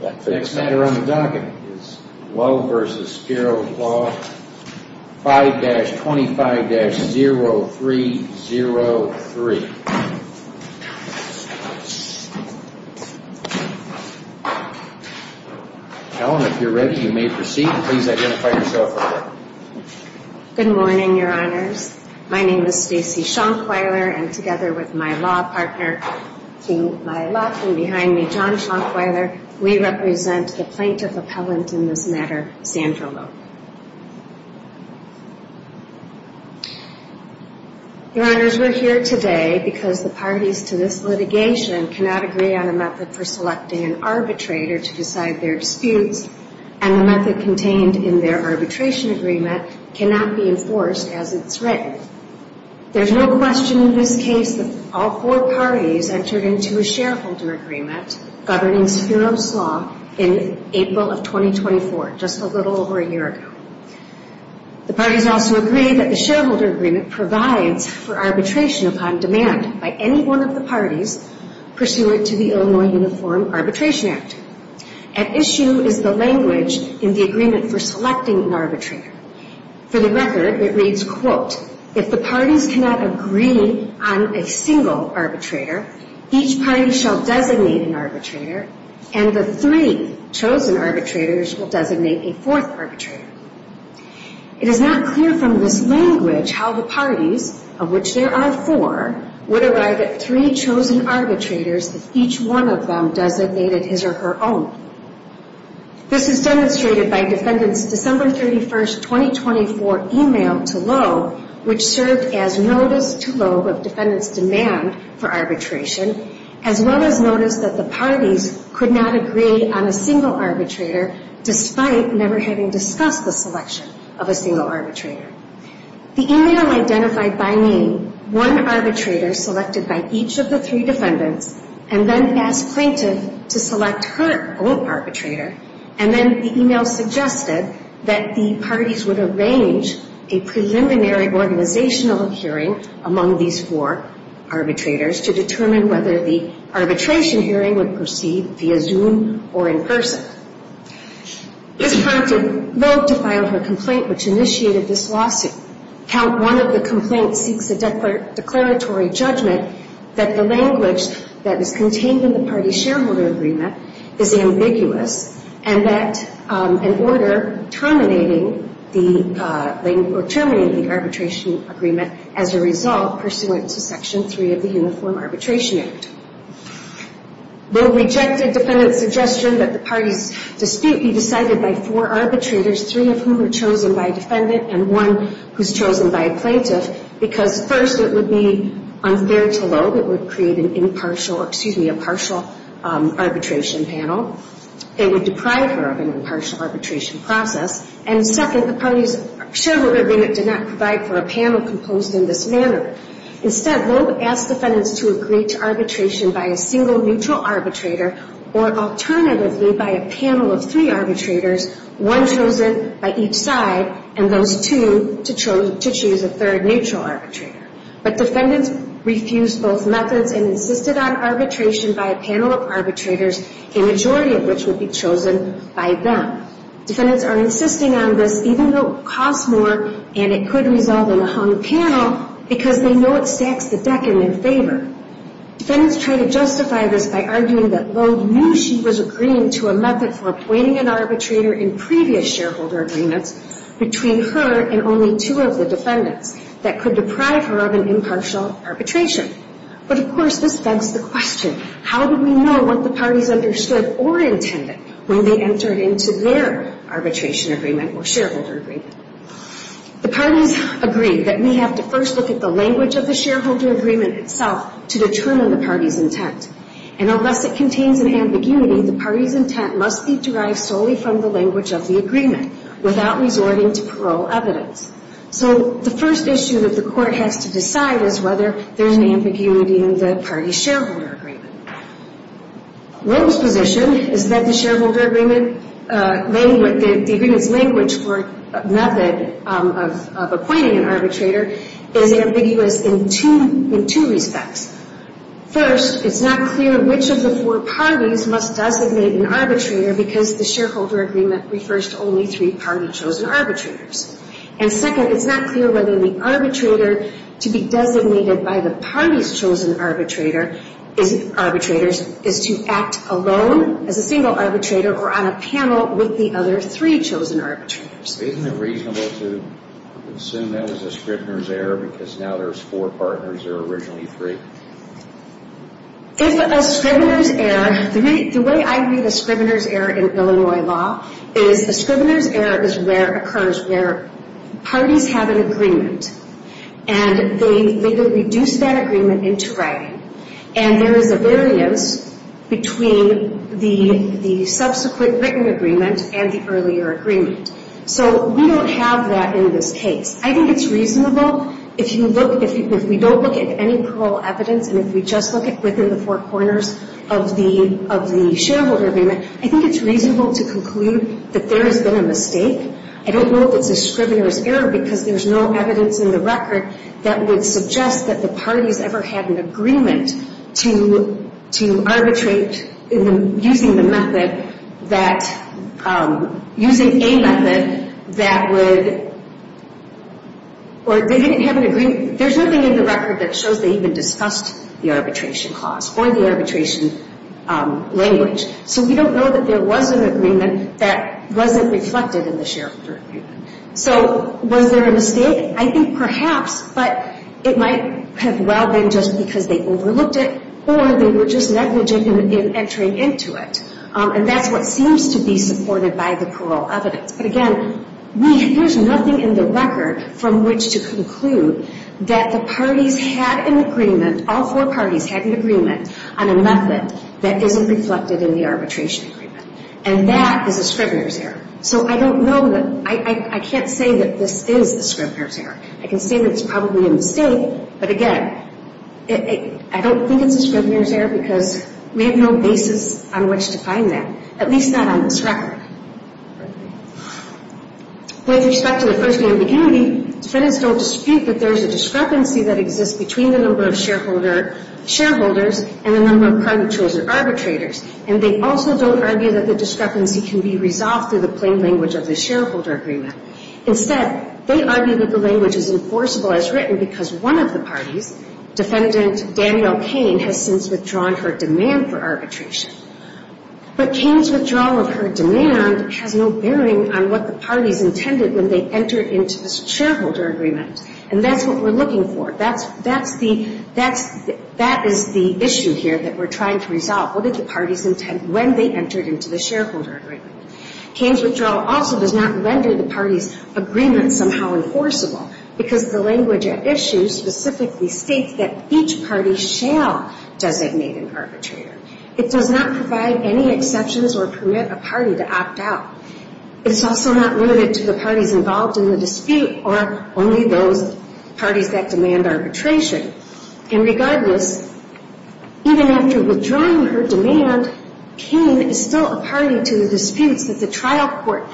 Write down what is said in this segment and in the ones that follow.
The next matter on the docket is Loeb v. Spiros Law 5-25-0303. Ellen, if you're ready, you may proceed. Please identify yourself. Good morning, Your Honors. My name is Stacy Schonkweiler, and together with my law partner, King Mylock, and behind me, John Schonkweiler, we represent the plaintiff appellant in this matter, Sandra Loeb. Your Honors, we're here today because the parties to this litigation cannot agree on a method for selecting an arbitrator to decide their disputes, and the method contained in their arbitration agreement cannot be enforced as it's written. There's no question in this case that all four parties entered into a shareholder agreement governing Spiros Law in April of 2024, just a little over a year ago. The parties also agree that the shareholder agreement provides for arbitration upon demand by any one of the parties pursuant to the Illinois Uniform Arbitration Act. At issue is the language in the agreement for selecting an arbitrator. For the record, it reads, quote, if the parties cannot agree on a single arbitrator, each party shall designate an arbitrator, and the three chosen arbitrators will designate a fourth arbitrator. It is not clear from this language how the parties, of which there are four, would arrive at three chosen arbitrators if each one of them designated his or her own. This is demonstrated by defendants' December 31, 2024 email to Loeb, which served as notice to Loeb of defendants' demand for arbitration, as well as notice that the parties could not agree on a single arbitrator despite never having discussed the selection of a single arbitrator. The email identified by name one arbitrator selected by each of the three defendants and then asked plaintiff to select her own arbitrator, and then the email suggested that the parties would arrange a preliminary organizational hearing among these four arbitrators to determine whether the arbitration hearing would proceed via Zoom or in person. This prompted Loeb to file her complaint, which initiated this lawsuit. Count one of the complaints seeks a declaratory judgment that the language that is contained in the party shareholder agreement is ambiguous, and that an order terminating the arbitration agreement as a result pursuant to Section 3 of the Uniform Arbitration Act. Loeb rejected defendants' suggestion that the parties' dispute be decided by four arbitrators, three of whom were chosen by a defendant and one who was chosen by a plaintiff, because first, it would be unfair to Loeb. It would create an impartial, excuse me, a partial arbitration panel. It would deprive her of an impartial arbitration process, and second, the parties' shareholder agreement did not provide for a panel composed in this manner. Instead, Loeb asked defendants to agree to arbitration by a single neutral arbitrator or alternatively by a panel of three arbitrators, one chosen by each side and those two to choose a third neutral arbitrator. But defendants refused both methods and insisted on arbitration by a panel of arbitrators, a majority of which would be chosen by them. Defendants are insisting on this even though it costs more and it could result in a hung panel because they know it stacks the deck in their favor. Defendants try to justify this by arguing that Loeb knew she was agreeing to a method for appointing an arbitrator in previous shareholder agreements between her and only two of the defendants that could deprive her of an impartial arbitration. But of course, this begs the question, how do we know what the parties understood or intended when they entered into their arbitration agreement or shareholder agreement? The parties agreed that we have to first look at the language of the shareholder agreement itself to determine the party's intent. And unless it contains an ambiguity, the party's intent must be derived solely from the language of the agreement without resorting to parole evidence. So the first issue that the court has to decide is whether there's an ambiguity in the party's shareholder agreement. Loeb's position is that the shareholder agreement, the agreement's language for a method of appointing an arbitrator is ambiguous in two respects. First, it's not clear which of the four parties must designate an arbitrator because the shareholder agreement refers to only three party-chosen arbitrators. And second, it's not clear whether the arbitrator to be designated by the party's chosen arbitrators is to act alone as a single arbitrator or on a panel with the other three chosen arbitrators. Isn't it reasonable to assume that was a Scribner's error because now there's four partners, there were originally three? If a Scribner's error, the way I read a Scribner's error in Illinois law is a Scribner's error is where it occurs where parties have an agreement and they reduce that agreement into writing. And there is a variance between the subsequent written agreement and the earlier agreement. So we don't have that in this case. I think it's reasonable if you look, if we don't look at any plural evidence and if we just look at within the four corners of the shareholder agreement, I think it's reasonable to conclude that there has been a mistake. I don't know if it's a Scribner's error because there's no evidence in the record that would suggest that the parties ever had an agreement to arbitrate using the method that, using a method that would, or they didn't have an agreement. There's nothing in the record that shows they even discussed the arbitration clause or the arbitration language. So we don't know that there was an agreement that wasn't reflected in the shareholder agreement. So was there a mistake? I think perhaps, but it might have well been just because they overlooked it or they were just negligent in entering into it. And that's what seems to be supported by the plural evidence. But again, there's nothing in the record from which to conclude that the parties had an agreement, all four parties had an agreement on a method that isn't reflected in the arbitration agreement. And that is a Scribner's error. So I don't know, I can't say that this is a Scribner's error. I can say that it's probably a mistake, but again, I don't think it's a Scribner's error because we have no basis on which to find that, at least not on this record. With respect to the first name immunity, defendants don't dispute that there's a discrepancy that exists between the number of shareholders and the number of private chosen arbitrators. And they also don't argue that the discrepancy can be resolved through the plain language of the shareholder agreement. Instead, they argue that the language is enforceable as written because one of the parties, defendant Danielle Kane, has since withdrawn her demand for arbitration. But Kane's withdrawal of her demand has no bearing on what the parties intended when they entered into the shareholder agreement. And that's what we're looking for. That's the issue here that we're trying to resolve. What did the parties intend when they entered into the shareholder agreement? Kane's withdrawal also does not render the parties' agreement somehow enforceable because the language at issue specifically states that each party shall designate an arbitrator. It does not provide any exceptions or permit a party to opt out. It's also not limited to the parties involved in the dispute or only those parties that demand arbitration. And regardless, even after withdrawing her demand, Kane is still a party to the disputes that the trial court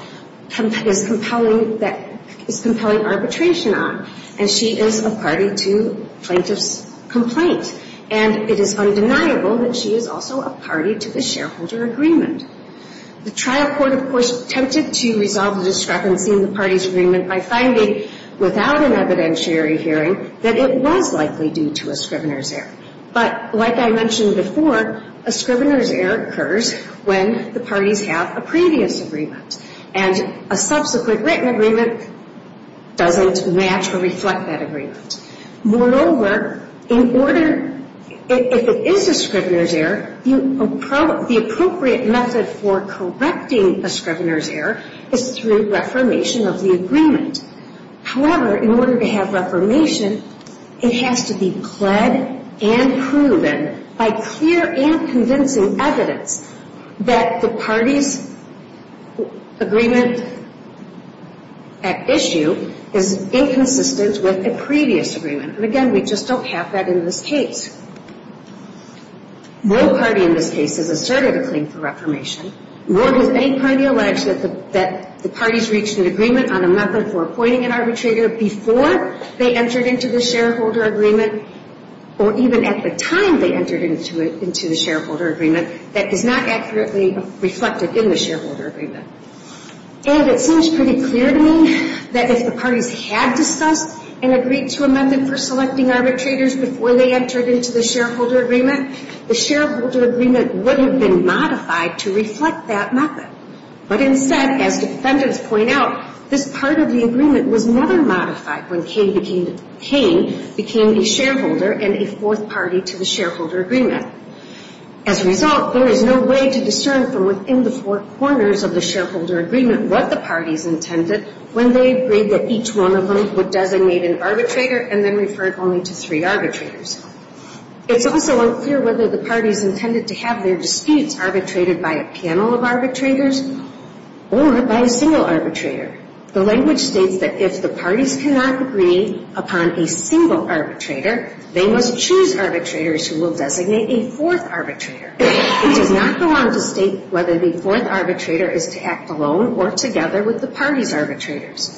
is compelling arbitration on. And she is a party to plaintiff's complaint. And it is undeniable that she is also a party to the shareholder agreement. The trial court, of course, attempted to resolve the discrepancy in the parties' agreement by finding without an evidentiary hearing that it was likely due to a scrivener's error. But like I mentioned before, a scrivener's error occurs when the parties have a previous agreement. And a subsequent written agreement doesn't match or reflect that agreement. Moreover, if it is a scrivener's error, the appropriate method for correcting a scrivener's error is through reformation of the agreement. However, in order to have reformation, it has to be pled and proven by clear and convincing evidence that the party's agreement at issue is inconsistent with a previous agreement. And again, we just don't have that in this case. No party in this case has asserted a claim for reformation, nor has any party alleged that the parties reached an agreement on a method for appointing an arbitrator before they entered into the shareholder agreement, or even at the time they entered into the shareholder agreement, that is not accurately reflected in the shareholder agreement. And it seems pretty clear to me that if the parties had discussed and agreed to a method for selecting arbitrators before they entered into the shareholder agreement, the shareholder agreement wouldn't have been modified to reflect that method. But instead, as defendants point out, this part of the agreement was never modified when Kane became a shareholder and a fourth party to the shareholder agreement. As a result, there is no way to discern from within the four corners of the shareholder agreement what the parties intended when they agreed that each one of them would designate an arbitrator and then refer only to three arbitrators. It's also unclear whether the parties intended to have their disputes arbitrated by a panel of arbitrators or by a single arbitrator. The language states that if the parties cannot agree upon a single arbitrator, they must choose arbitrators who will designate a fourth arbitrator. It does not go on to state whether the fourth arbitrator is to act alone or together with the party's arbitrators.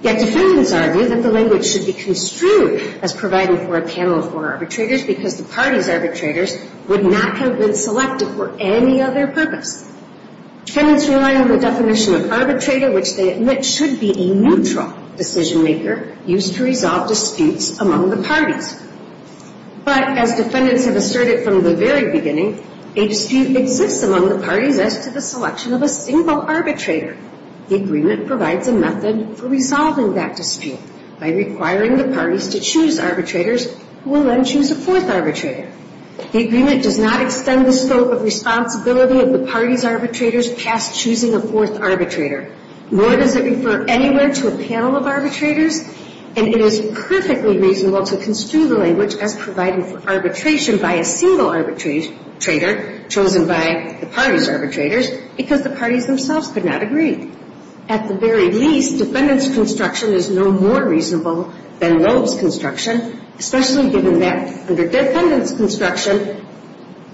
Yet defendants argue that the language should be construed as providing for a panel of four arbitrators because the party's arbitrators would not have been selected for any other purpose. Defendants rely on the definition of arbitrator, which they admit should be a neutral decision maker used to resolve disputes among the parties. But as defendants have asserted from the very beginning, a dispute exists among the parties as to the selection of a single arbitrator. The agreement provides a method for resolving that dispute by requiring the parties to choose arbitrators who will then choose a fourth arbitrator. The agreement does not extend the scope of responsibility of the party's arbitrators past choosing a fourth arbitrator. Nor does it refer anywhere to a panel of arbitrators. And it is perfectly reasonable to construe the language as providing for arbitration by a single arbitrator chosen by the party's arbitrators because the parties themselves could not agree. At the very least, defendants' construction is no more reasonable than Loeb's construction, especially given that under defendants' construction,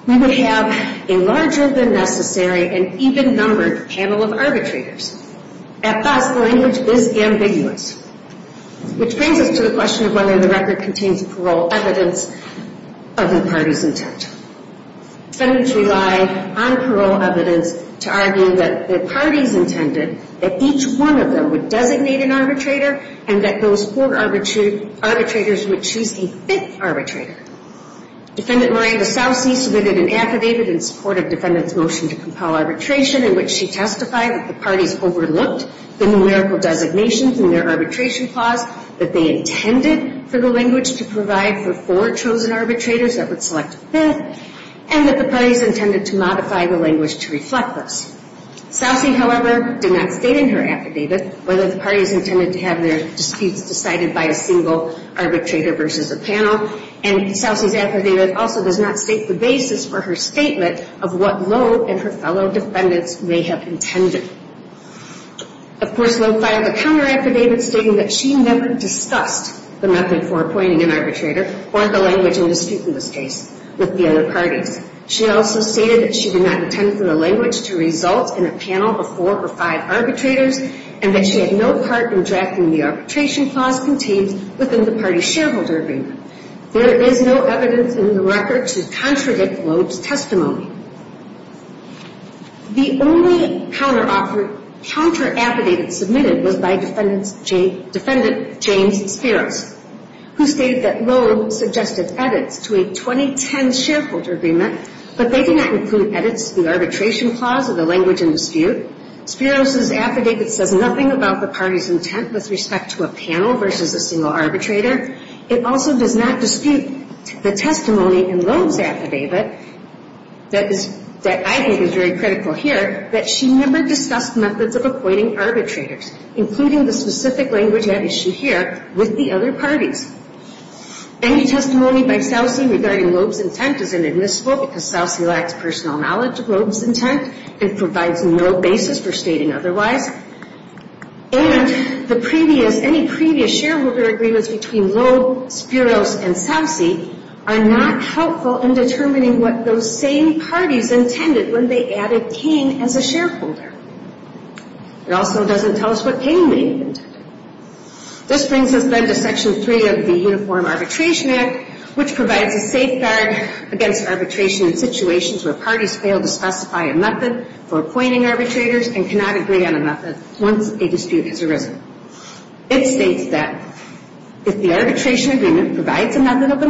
we would have a larger than necessary and even-numbered panel of arbitrators. At best, the language is ambiguous, which brings us to the question of whether the record contains parole evidence of the party's intent. Defendants relied on parole evidence to argue that the parties intended that each one of them would designate an arbitrator and that those four arbitrators would choose a fifth arbitrator. Defendant Miranda Sousey submitted an affidavit in support of defendants' motion to compel arbitration in which she testified that the parties overlooked the numerical designations in their arbitration clause, that they intended for the language to provide for four chosen arbitrators that would select a fifth, and that the parties intended to modify the language to reflect this. Sousey, however, did not state in her affidavit whether the parties intended to have their disputes decided by a single arbitrator versus a panel, and Sousey's affidavit also does not state the basis for her statement of what Loeb and her fellow defendants may have intended. Of course, Loeb filed a counter-affidavit stating that she never discussed the method for appointing an arbitrator or the language in dispute in this case with the other parties. She also stated that she did not intend for the language to result in a panel of four or five arbitrators, and that she had no part in drafting the arbitration clause contained within the party shareholder agreement. There is no evidence in the record to contradict Loeb's testimony. The only counter-affidavit submitted was by defendant James Spiros, who stated that Loeb suggested edits to a 2010 shareholder agreement, but they did not include edits to the arbitration clause or the language in dispute. Spiros' affidavit says nothing about the party's intent with respect to a panel versus a single arbitrator. It also does not dispute the testimony in Loeb's affidavit that I think is very critical here, that she never discussed methods of appointing arbitrators, including the specific language at issue here with the other parties. Any testimony by Sousey regarding Loeb's intent is inadmissible because Sousey lacks personal knowledge of Loeb's intent and provides no basis for stating otherwise. And any previous shareholder agreements between Loeb, Spiros, and Sousey are not helpful in determining what those same parties intended when they added King as a shareholder. It also doesn't tell us what King may have intended. This brings us then to Section 3 of the Uniform Arbitration Act, which provides a safeguard against arbitration in situations where parties fail to specify a method for appointing arbitrators and cannot agree on a method once a dispute has arisen. It states that if the arbitration agreement provides a method of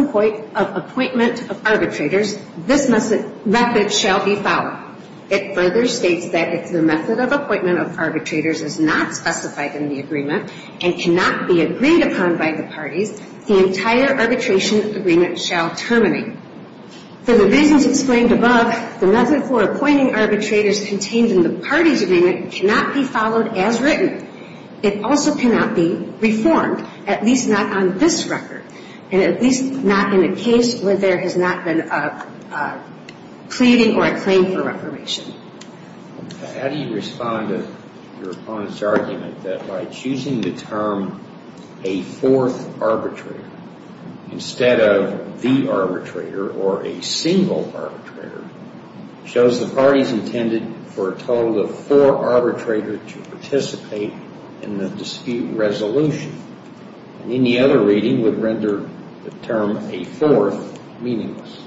appointment of arbitrators, this method shall be followed. It further states that if the method of appointment of arbitrators is not specified in the agreement and cannot be agreed upon by the parties, the entire arbitration agreement shall terminate. For the reasons explained above, the method for appointing arbitrators contained in the parties' agreement cannot be followed as written. It also cannot be reformed, at least not on this record, and at least not in a case where there has not been a pleading or a claim for reformation. How do you respond to your opponent's argument that by choosing the term a fourth arbitrator instead of the arbitrator or a single arbitrator, shows the parties intended for a total of four arbitrators to participate in the dispute resolution, and any other reading would render the term a fourth meaningless?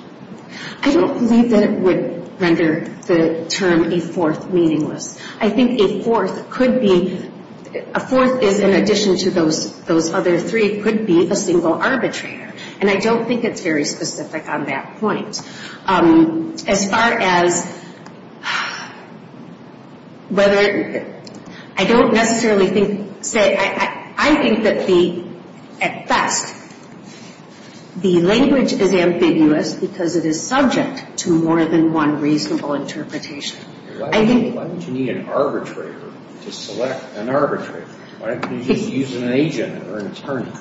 I don't believe that it would render the term a fourth meaningless. I think a fourth could be, a fourth is in addition to those other three, could be a single arbitrator, and I don't think it's very specific on that point. As far as whether, I don't necessarily think, say, I think that the, at best, the language is ambiguous because it is subject to more than one reasonable interpretation. Why would you need an arbitrator to select an arbitrator? Why couldn't you use an agent or an attorney?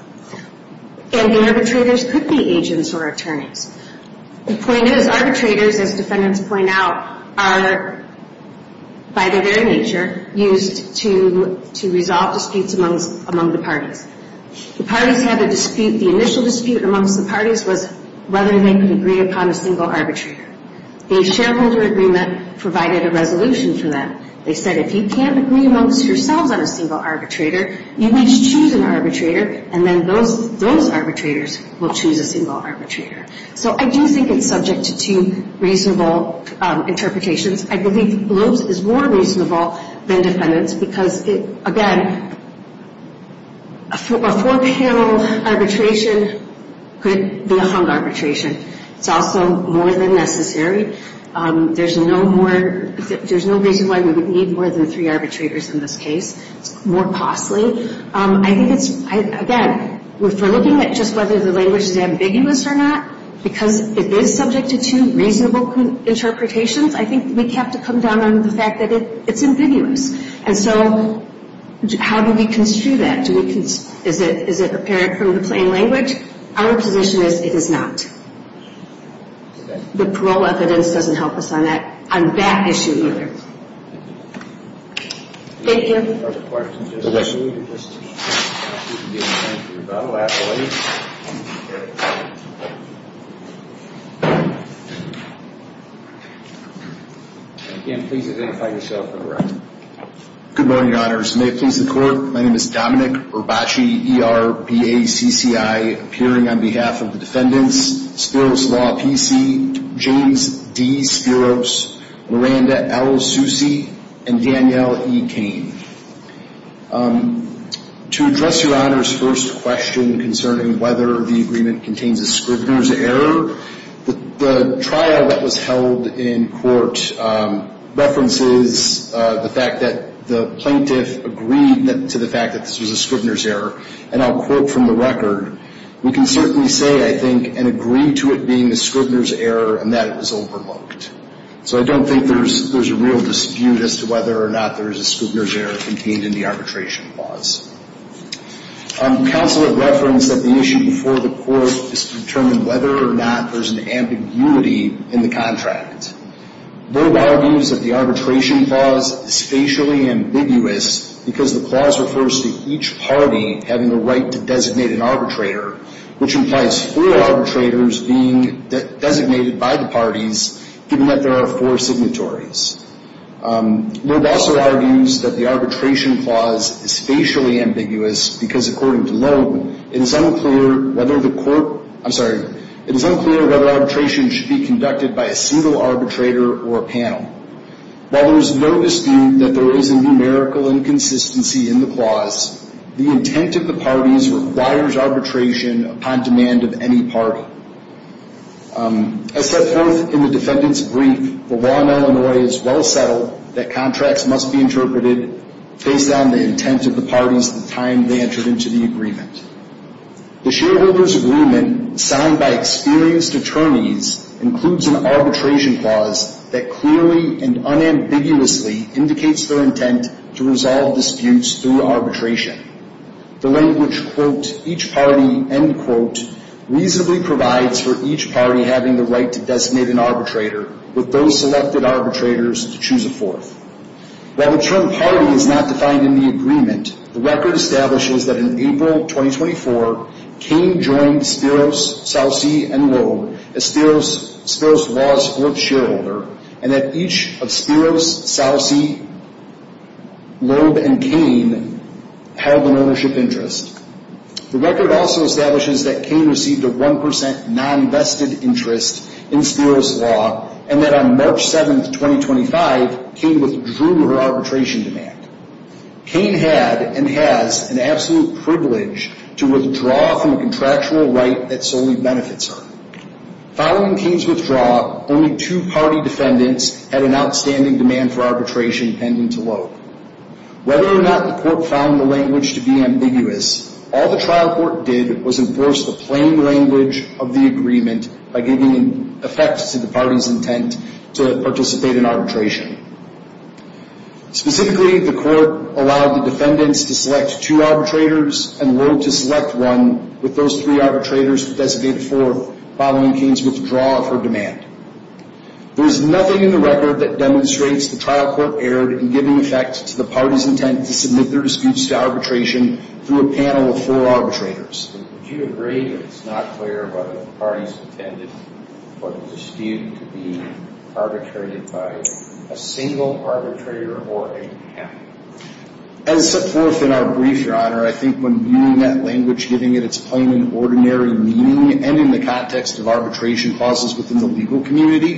And the arbitrators could be agents or attorneys. The point is, arbitrators, as defendants point out, are, by their very nature, used to resolve disputes among the parties. The parties had a dispute. The initial dispute amongst the parties was whether they could agree upon a single arbitrator. A shareholder agreement provided a resolution for them. They said, if you can't agree amongst yourselves on a single arbitrator, you each choose an arbitrator, and then those arbitrators will choose a single arbitrator. So I do think it's subject to two reasonable interpretations. I believe BLOES is more reasonable than defendants because, again, a four-panel arbitration could be a hung arbitration. It's also more than necessary. There's no more, there's no reason why we would need more than three arbitrators in this case. It's more costly. I think it's, again, if we're looking at just whether the language is ambiguous or not, because it is subject to two reasonable interpretations, I think we have to come down on the fact that it's ambiguous. And so how do we construe that? Is it apparent from the plain language? Our position is it is not. The parole evidence doesn't help us on that issue either. Thank you. Okay. Good morning, Your Honors. May it please the Court, my name is Dominic Urbachi, E-R-B-A-C-C-I, appearing on behalf of the defendants, Spiros Law, P.C., James D. Spiros, Miranda L. Soucy, and Danielle E. Cain. To address Your Honor's first question concerning whether the agreement contains a Scribner's error, the trial that was held in court references the fact that the plaintiff agreed to the fact that this was a Scribner's error. And I'll quote from the record, we can certainly say, I think, and agree to it being a Scribner's error and that it was overlooked. So I don't think there's a real dispute as to whether or not there is a Scribner's error contained in the arbitration clause. Counsel had referenced that the issue before the court is to determine whether or not there's an ambiguity in the contract. Loeb argues that the arbitration clause is facially ambiguous because the clause refers to each party having the right to designate an arbitrator, which implies four arbitrators being designated by the parties, given that there are four signatories. Loeb also argues that the arbitration clause is facially ambiguous because, according to Loeb, it is unclear whether the court, I'm sorry, it is unclear whether arbitration should be conducted by a single arbitrator or a panel. While there is no dispute that there is a numerical inconsistency in the clause, the intent of the parties requires arbitration upon demand of any party. As set forth in the defendant's brief, the law in Illinois is well settled that contracts must be interpreted based on the intent of the parties at the time they entered into the agreement. The shareholders' agreement signed by experienced attorneys includes an arbitration clause that clearly and unambiguously indicates their intent to resolve disputes through arbitration. The language, quote, each party, end quote, reasonably provides for each party having the right to designate an arbitrator with those selected arbitrators to choose a fourth. While the term party is not defined in the agreement, the record establishes that in April 2024, Cain joined Spiros, Salsi, and Loeb as Spiros Law's fourth shareholder, and that each of Spiros, Salsi, Loeb, and Cain held an ownership interest. The record also establishes that Cain received a 1% non-vested interest in Spiros Law, and that on March 7, 2025, Cain withdrew her arbitration demand. Cain had and has an absolute privilege to withdraw from a contractual right that solely benefits her. Following Cain's withdrawal, only two party defendants had an outstanding demand for arbitration pending to Loeb. Whether or not the court found the language to be ambiguous, all the trial court did was enforce the plain language of the agreement by giving effect to the party's intent to participate in arbitration. Specifically, the court allowed the defendants to select two arbitrators, and Loeb to select one with those three arbitrators to designate a fourth following Cain's withdrawal of her demand. There is nothing in the record that demonstrates the trial court erred in giving effect to the party's intent to submit their disputes to arbitration through a panel of four arbitrators. As set forth in our brief, Your Honor, I think when viewing that language, giving it its plain and ordinary meaning, and in the context of arbitration clauses within the legal community,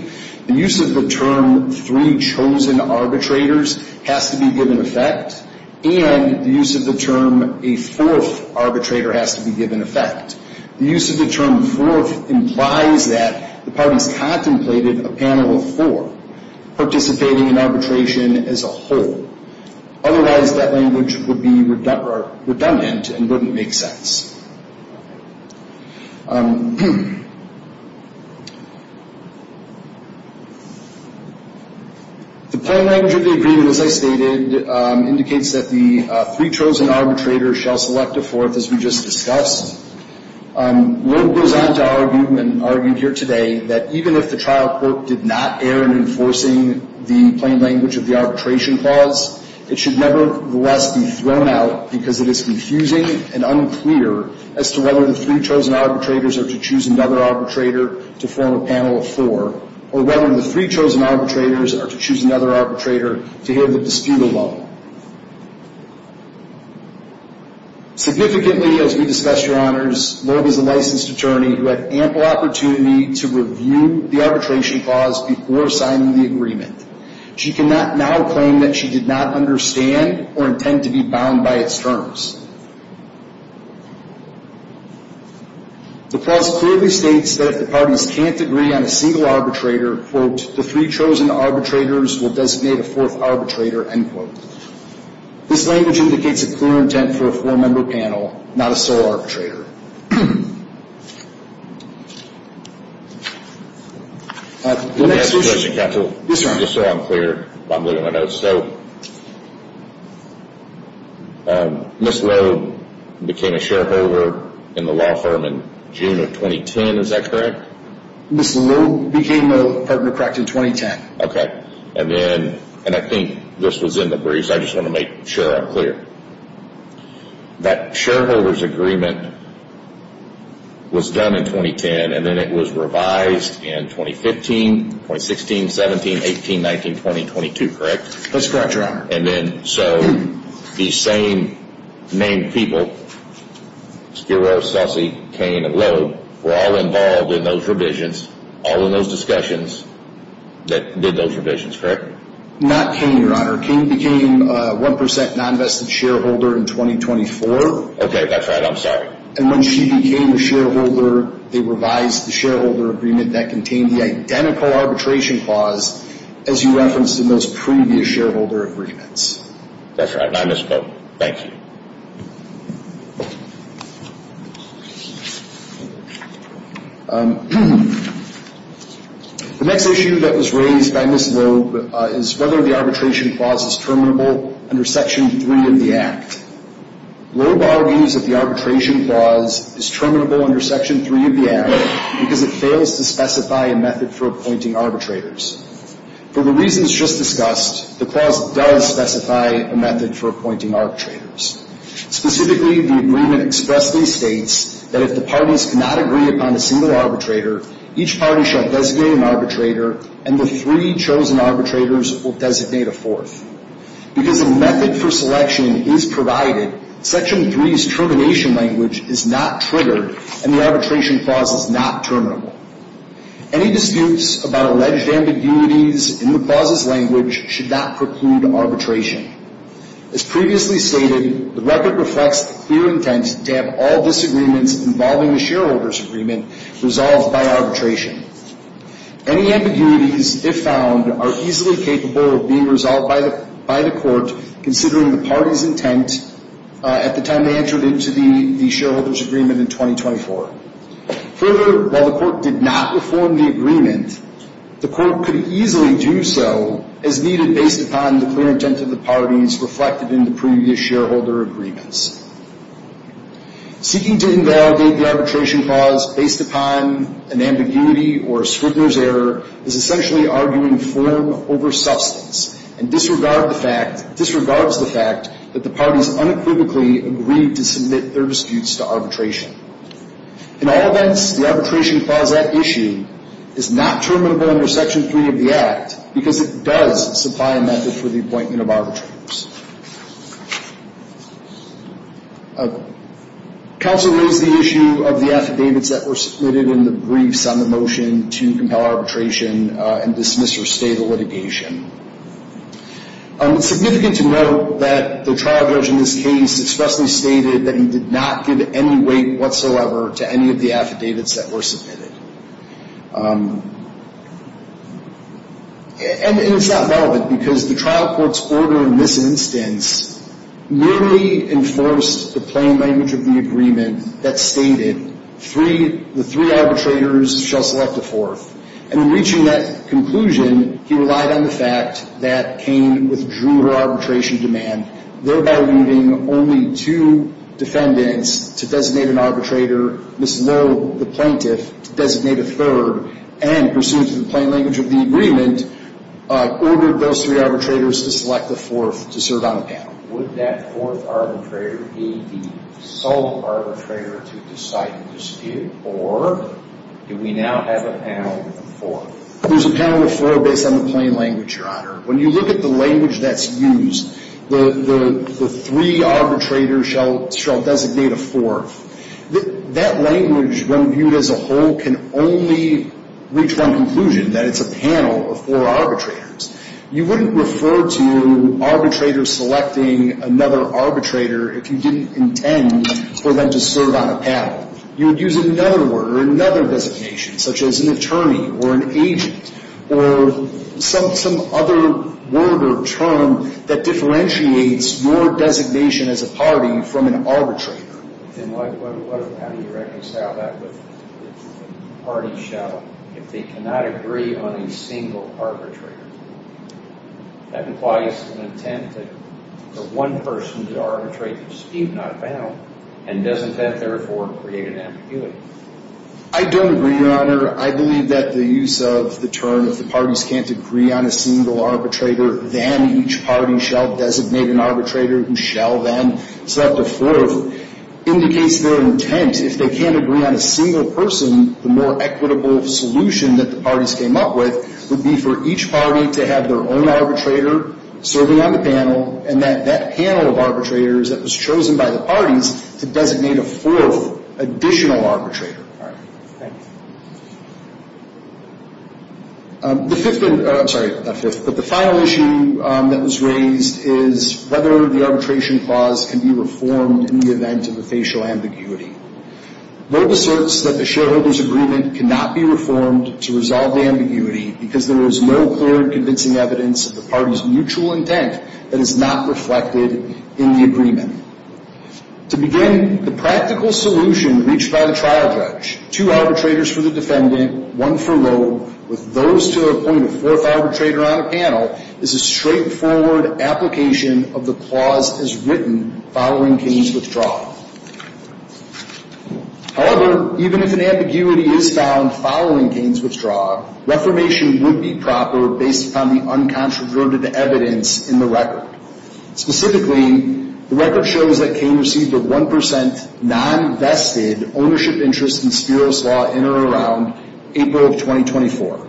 the use of the term three chosen arbitrators has to be given effect, and the use of the term a fourth arbitrator has to be given effect. The use of the term fourth implies that the parties contemplated a panel of four participating in arbitration as a whole. Otherwise, that language would be redundant and wouldn't make sense. The plain language of the agreement, as I stated, indicates that the three chosen arbitrators shall select a fourth, as we just discussed. Loeb goes on to argue, and argued here today, that even if the trial court did not err in enforcing the plain language of the arbitration clause, it should nevertheless be thrown out because it is confusing and unclear as to whether the three chosen arbitrators are to choose another arbitrator to form a panel of four, or whether the three chosen arbitrators are to choose another arbitrator to have the dispute alone. Significantly, as we discussed, Your Honors, Loeb is a licensed attorney who had ample opportunity to review the arbitration clause before signing the agreement. She cannot now claim that she did not understand or intend to be bound by its terms. The clause clearly states that if the parties can't agree on a single arbitrator, quote, the three chosen arbitrators will designate a fourth arbitrator, end quote. This language indicates a clear intent for a four-member panel, not a sole arbitrator. Let me ask a question, counsel. Yes, Your Honor. Just so I'm clear while I'm looking at my notes. So, Ms. Loeb became a shareholder in the law firm in June of 2010, is that correct? Ms. Loeb became a partner, correct, in 2010. Okay. And then, and I think this was in the briefs, I just want to make sure I'm clear. That shareholder's agreement was done in 2010, and then it was revised in 2015, 2016, 17, 18, 19, 20, 22, correct? That's correct, Your Honor. And then, so, these same named people, Spiro, Sussie, Cain, and Loeb, were all involved in those revisions, all in those discussions that did those revisions, correct? Not Cain, Your Honor. Cain became a 1% non-vested shareholder in 2024. Okay, that's right. I'm sorry. And when she became a shareholder, they revised the shareholder agreement that contained the identical arbitration clause as you referenced in those previous shareholder agreements. That's right. And I misspoke. Thank you. The next issue that was raised by Ms. Loeb is whether the arbitration clause is terminable under Section 3 of the Act. Loeb argues that the arbitration clause is terminable under Section 3 of the Act because it fails to specify a method for appointing arbitrators. For the reasons just discussed, the clause does specify a method for appointing arbitrators. Specifically, the agreement expressly states that if the parties cannot agree upon a single arbitrator, each party shall designate an arbitrator, and the three chosen arbitrators will designate a fourth. Because a method for selection is provided, Section 3's termination language is not triggered, and the arbitration clause is not terminable. Any disputes about alleged ambiguities in the clause's language should not preclude arbitration. As previously stated, the record reflects the clear intent to have all disagreements involving the shareholder's agreement resolved by arbitration. Any ambiguities, if found, are easily capable of being resolved by the court, considering the party's intent at the time they entered into the shareholder's agreement in 2024. Further, while the court did not reform the agreement, the court could easily do so as needed based upon the clear intent of the parties reflected in the previous shareholder agreements. Seeking to invalidate the arbitration clause based upon an ambiguity or a Scribner's error is essentially arguing form over substance and disregards the fact that the parties unequivocally agreed to submit their disputes to arbitration. In all events, the arbitration clause at issue is not terminable under Section 3 of the Act because it does supply a method for the appointment of arbitrators. Counsel raised the issue of the affidavits that were submitted in the briefs on the motion to compel arbitration and dismiss or stay the litigation. It's significant to note that the trial judge in this case expressly stated that he did not give any weight whatsoever to any of the affidavits that were submitted. And it's not relevant because the trial court's order in this instance merely enforced the plain language of the agreement that stated the three arbitrators shall select a fourth. And in reaching that conclusion, he relied on the fact that Cain withdrew her arbitration demand, thereby leaving only two defendants to designate an arbitrator, Ms. Lowe, the plaintiff, to designate a third, and pursuant to the plain language of the agreement, ordered those three arbitrators to select a fourth to serve on the panel. Would that fourth arbitrator be the sole arbitrator to decide the dispute, or do we now have a panel of four? There's a panel of four based on the plain language, Your Honor. When you look at the language that's used, the three arbitrators shall designate a fourth, that language when viewed as a whole can only reach one conclusion, that it's a panel of four arbitrators. You wouldn't refer to arbitrators selecting another arbitrator if you didn't intend for them to serve on a panel. You would use another word or another designation, such as an attorney or an agent, or some other word or term that differentiates your designation as a party from an arbitrator. Then how do you reconcile that with the party shall if they cannot agree on a single arbitrator? That implies an intent that the one person to arbitrate the dispute not found, and doesn't that therefore create an ambiguity? I don't agree, Your Honor. I believe that the use of the term, if the parties can't agree on a single arbitrator, then each party shall designate an arbitrator who shall then select a fourth, indicates their intent. If they can't agree on a single person, the more equitable solution that the parties came up with would be for each party to have their own arbitrator serving on the panel, and that panel of arbitrators that was chosen by the parties to designate a fourth additional arbitrator. All right. Thanks. The fifth, I'm sorry, not fifth, but the final issue that was raised is whether the arbitration clause can be reformed in the event of a facial ambiguity. Boba certs that the shareholders' agreement cannot be reformed to resolve the ambiguity because there is no clear convincing evidence of the parties' mutual intent that is not reflected in the agreement. To begin, the practical solution reached by the trial judge, two arbitrators for the defendant, one for Roeb, with those to appoint a fourth arbitrator on a panel, is a straightforward application of the clause as written following Kane's withdrawal. However, even if an ambiguity is found following Kane's withdrawal, reformation would be proper based upon the uncontroverted evidence in the record. Specifically, the record shows that Kane received a 1% non-vested ownership interest in Spiro's Law in or around April of 2024.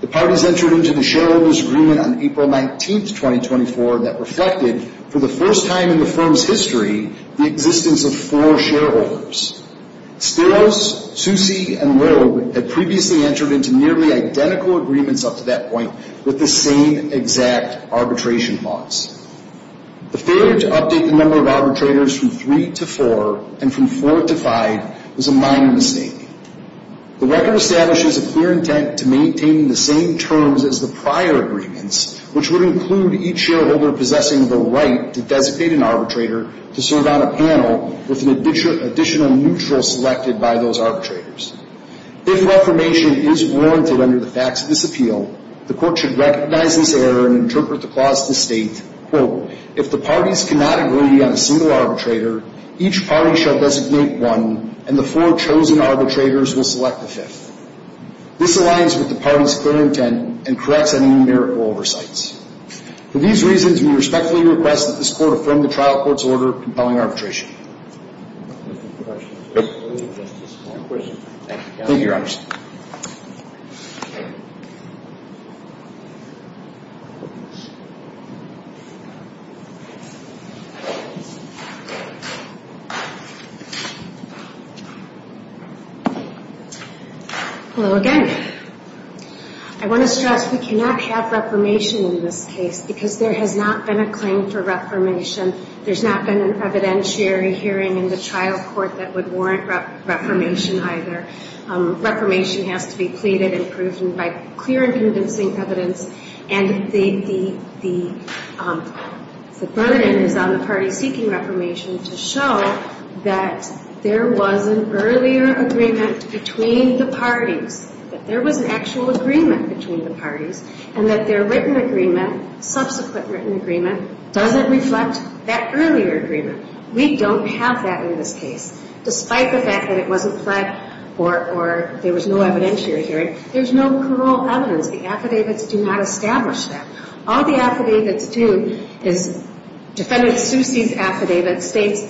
The parties entered into the shareholders' agreement on April 19th, 2024, that reflected, for the first time in the firm's history, the existence of four shareholders. Spiros, Soucy, and Roeb had previously entered into nearly identical agreements up to that point with the same exact arbitration clause. The failure to update the number of arbitrators from three to four and from four to five was a minor mistake. The record establishes a clear intent to maintain the same terms as the prior agreements, which would include each shareholder possessing the right to designate an arbitrator to serve on a panel with an additional neutral selected by those arbitrators. If reformation is warranted under the facts of this appeal, the court should recognize this error and interpret the clause to state, quote, if the parties cannot agree on a single arbitrator, each party shall designate one, and the four chosen arbitrators will select the fifth. This aligns with the parties' clear intent and corrects any numerical oversights. For these reasons, we respectfully request that this court affirm the trial court's order compelling arbitration. Thank you, Your Honor. Hello again. I want to stress we cannot have reformation in this case because there has not been a claim for reformation. There's not been an evidentiary hearing in the trial court that would warrant reformation either. Reformation has to be pleaded and proven by clear and convincing evidence. And the burden is on the parties seeking reformation to show that there was an earlier agreement between the parties, that there was an actual agreement between the parties, and that their written agreement, subsequent written agreement, doesn't reflect that earlier agreement. We don't have that in this case. Despite the fact that it wasn't pled or there was no evidentiary hearing, there's no parole evidence. The affidavits do not establish that. All the affidavits do is Defendant Suse's affidavit states,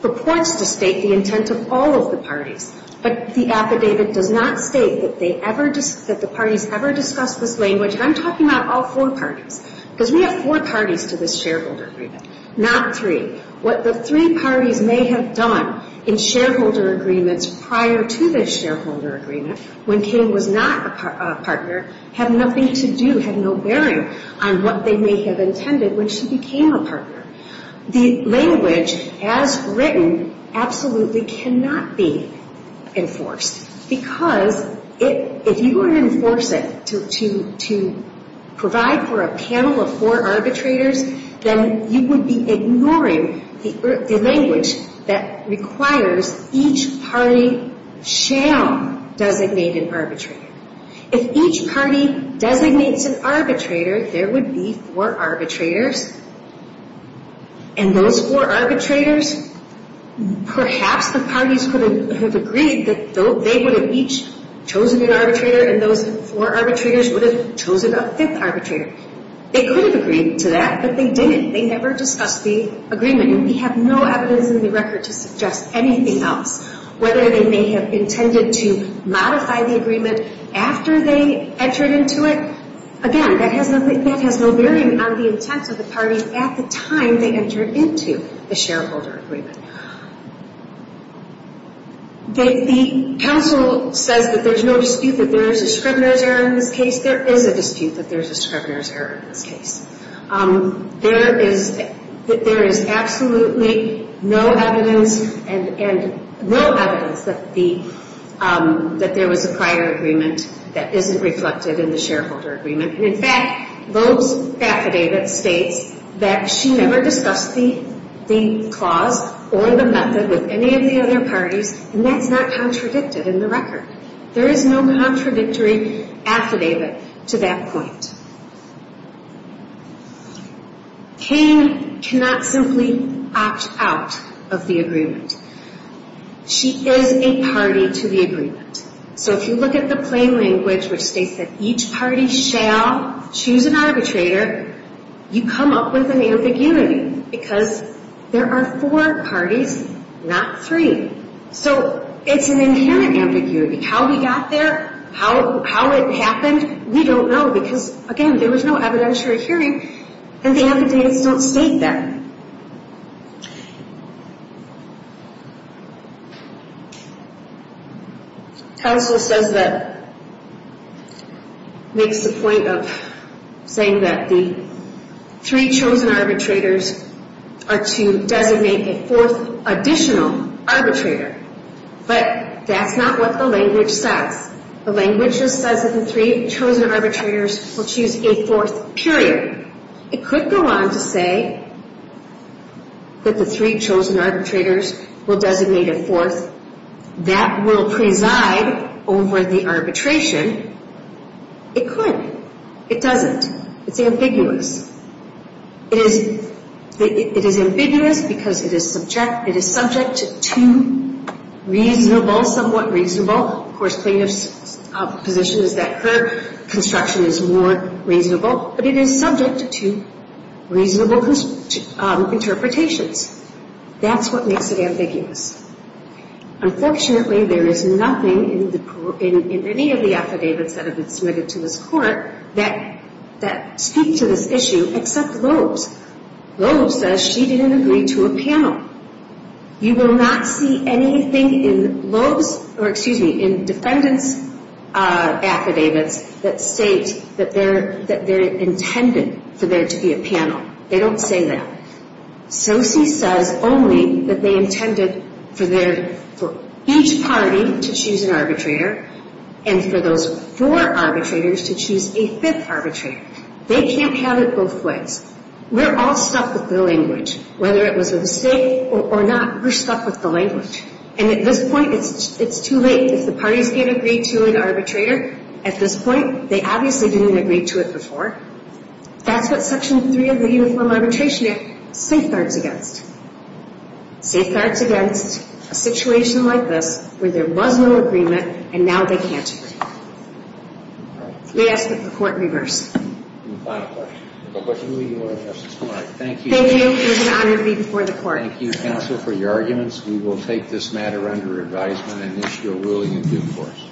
purports to state the intent of all of the parties, but the affidavit does not state that the parties ever discussed this language. And I'm talking about all four parties because we have four parties to this shareholder agreement, not three. What the three parties may have done in shareholder agreements prior to this shareholder agreement, when King was not a partner, had nothing to do, had no bearing on what they may have intended when she became a partner. The language, as written, absolutely cannot be enforced. Because if you were to enforce it to provide for a panel of four arbitrators, then you would be ignoring the language that requires each party shall designate an arbitrator. If each party designates an arbitrator, there would be four arbitrators. And those four arbitrators, perhaps the parties could have agreed that they would have each chosen an arbitrator and those four arbitrators would have chosen a fifth arbitrator. They could have agreed to that, but they didn't. They never discussed the agreement. And we have no evidence in the record to suggest anything else, whether they may have intended to modify the agreement after they entered into it. Again, that has no bearing on the intents of the parties at the time they entered into the shareholder agreement. The counsel says that there's no dispute that there is a scrivener's error in this case. There is a dispute that there is a scrivener's error in this case. There is absolutely no evidence that there was a prior agreement that isn't reflected in the shareholder agreement. In fact, Loeb's affidavit states that she never discussed the clause or the method with any of the other parties, and that's not contradicted in the record. There is no contradictory affidavit to that point. Payne cannot simply opt out of the agreement. She is a party to the agreement. So if you look at the plain language, which states that each party shall choose an arbitrator, you come up with an ambiguity because there are four parties, not three. So it's an inherent ambiguity. How we got there, how it happened, we don't know because, again, there was no evidentiary hearing, and the affidavits don't state that. Counsel says that, makes the point of saying that the three chosen arbitrators are to designate a fourth additional arbitrator. But that's not what the language says. The language just says that the three chosen arbitrators will choose a fourth period. It could go on to say that the three chosen arbitrators will designate a fourth. That will preside over the arbitration. It could. It doesn't. It's ambiguous. It is ambiguous because it is subject to reasonable, somewhat reasonable, of course plaintiff's position is that her construction is more reasonable, but it is subject to reasonable interpretations. That's what makes it ambiguous. Unfortunately, there is nothing in any of the affidavits that have been submitted to this court that speak to this issue except Loeb's. Loeb's says she didn't agree to a panel. You will not see anything in Loeb's, or excuse me, in defendant's affidavits that state that they're intended for there to be a panel. They don't say that. Sosi says only that they intended for each party to choose an arbitrator and for those four arbitrators to choose a fifth arbitrator. They can't have it both ways. We're all stuck with the language. Whether it was a mistake or not, we're stuck with the language. And at this point, it's too late if the parties can't agree to an arbitrator. At this point, they obviously didn't agree to it before. That's what Section 3 of the Uniform Arbitration Act safeguards against. It safeguards against a situation like this where there was no agreement and now they can't agree. May I ask that the court reverse? Final question. Thank you. It was an honor to be before the court. Thank you, counsel, for your arguments. We will take this matter under advisement and issue a ruling in due course.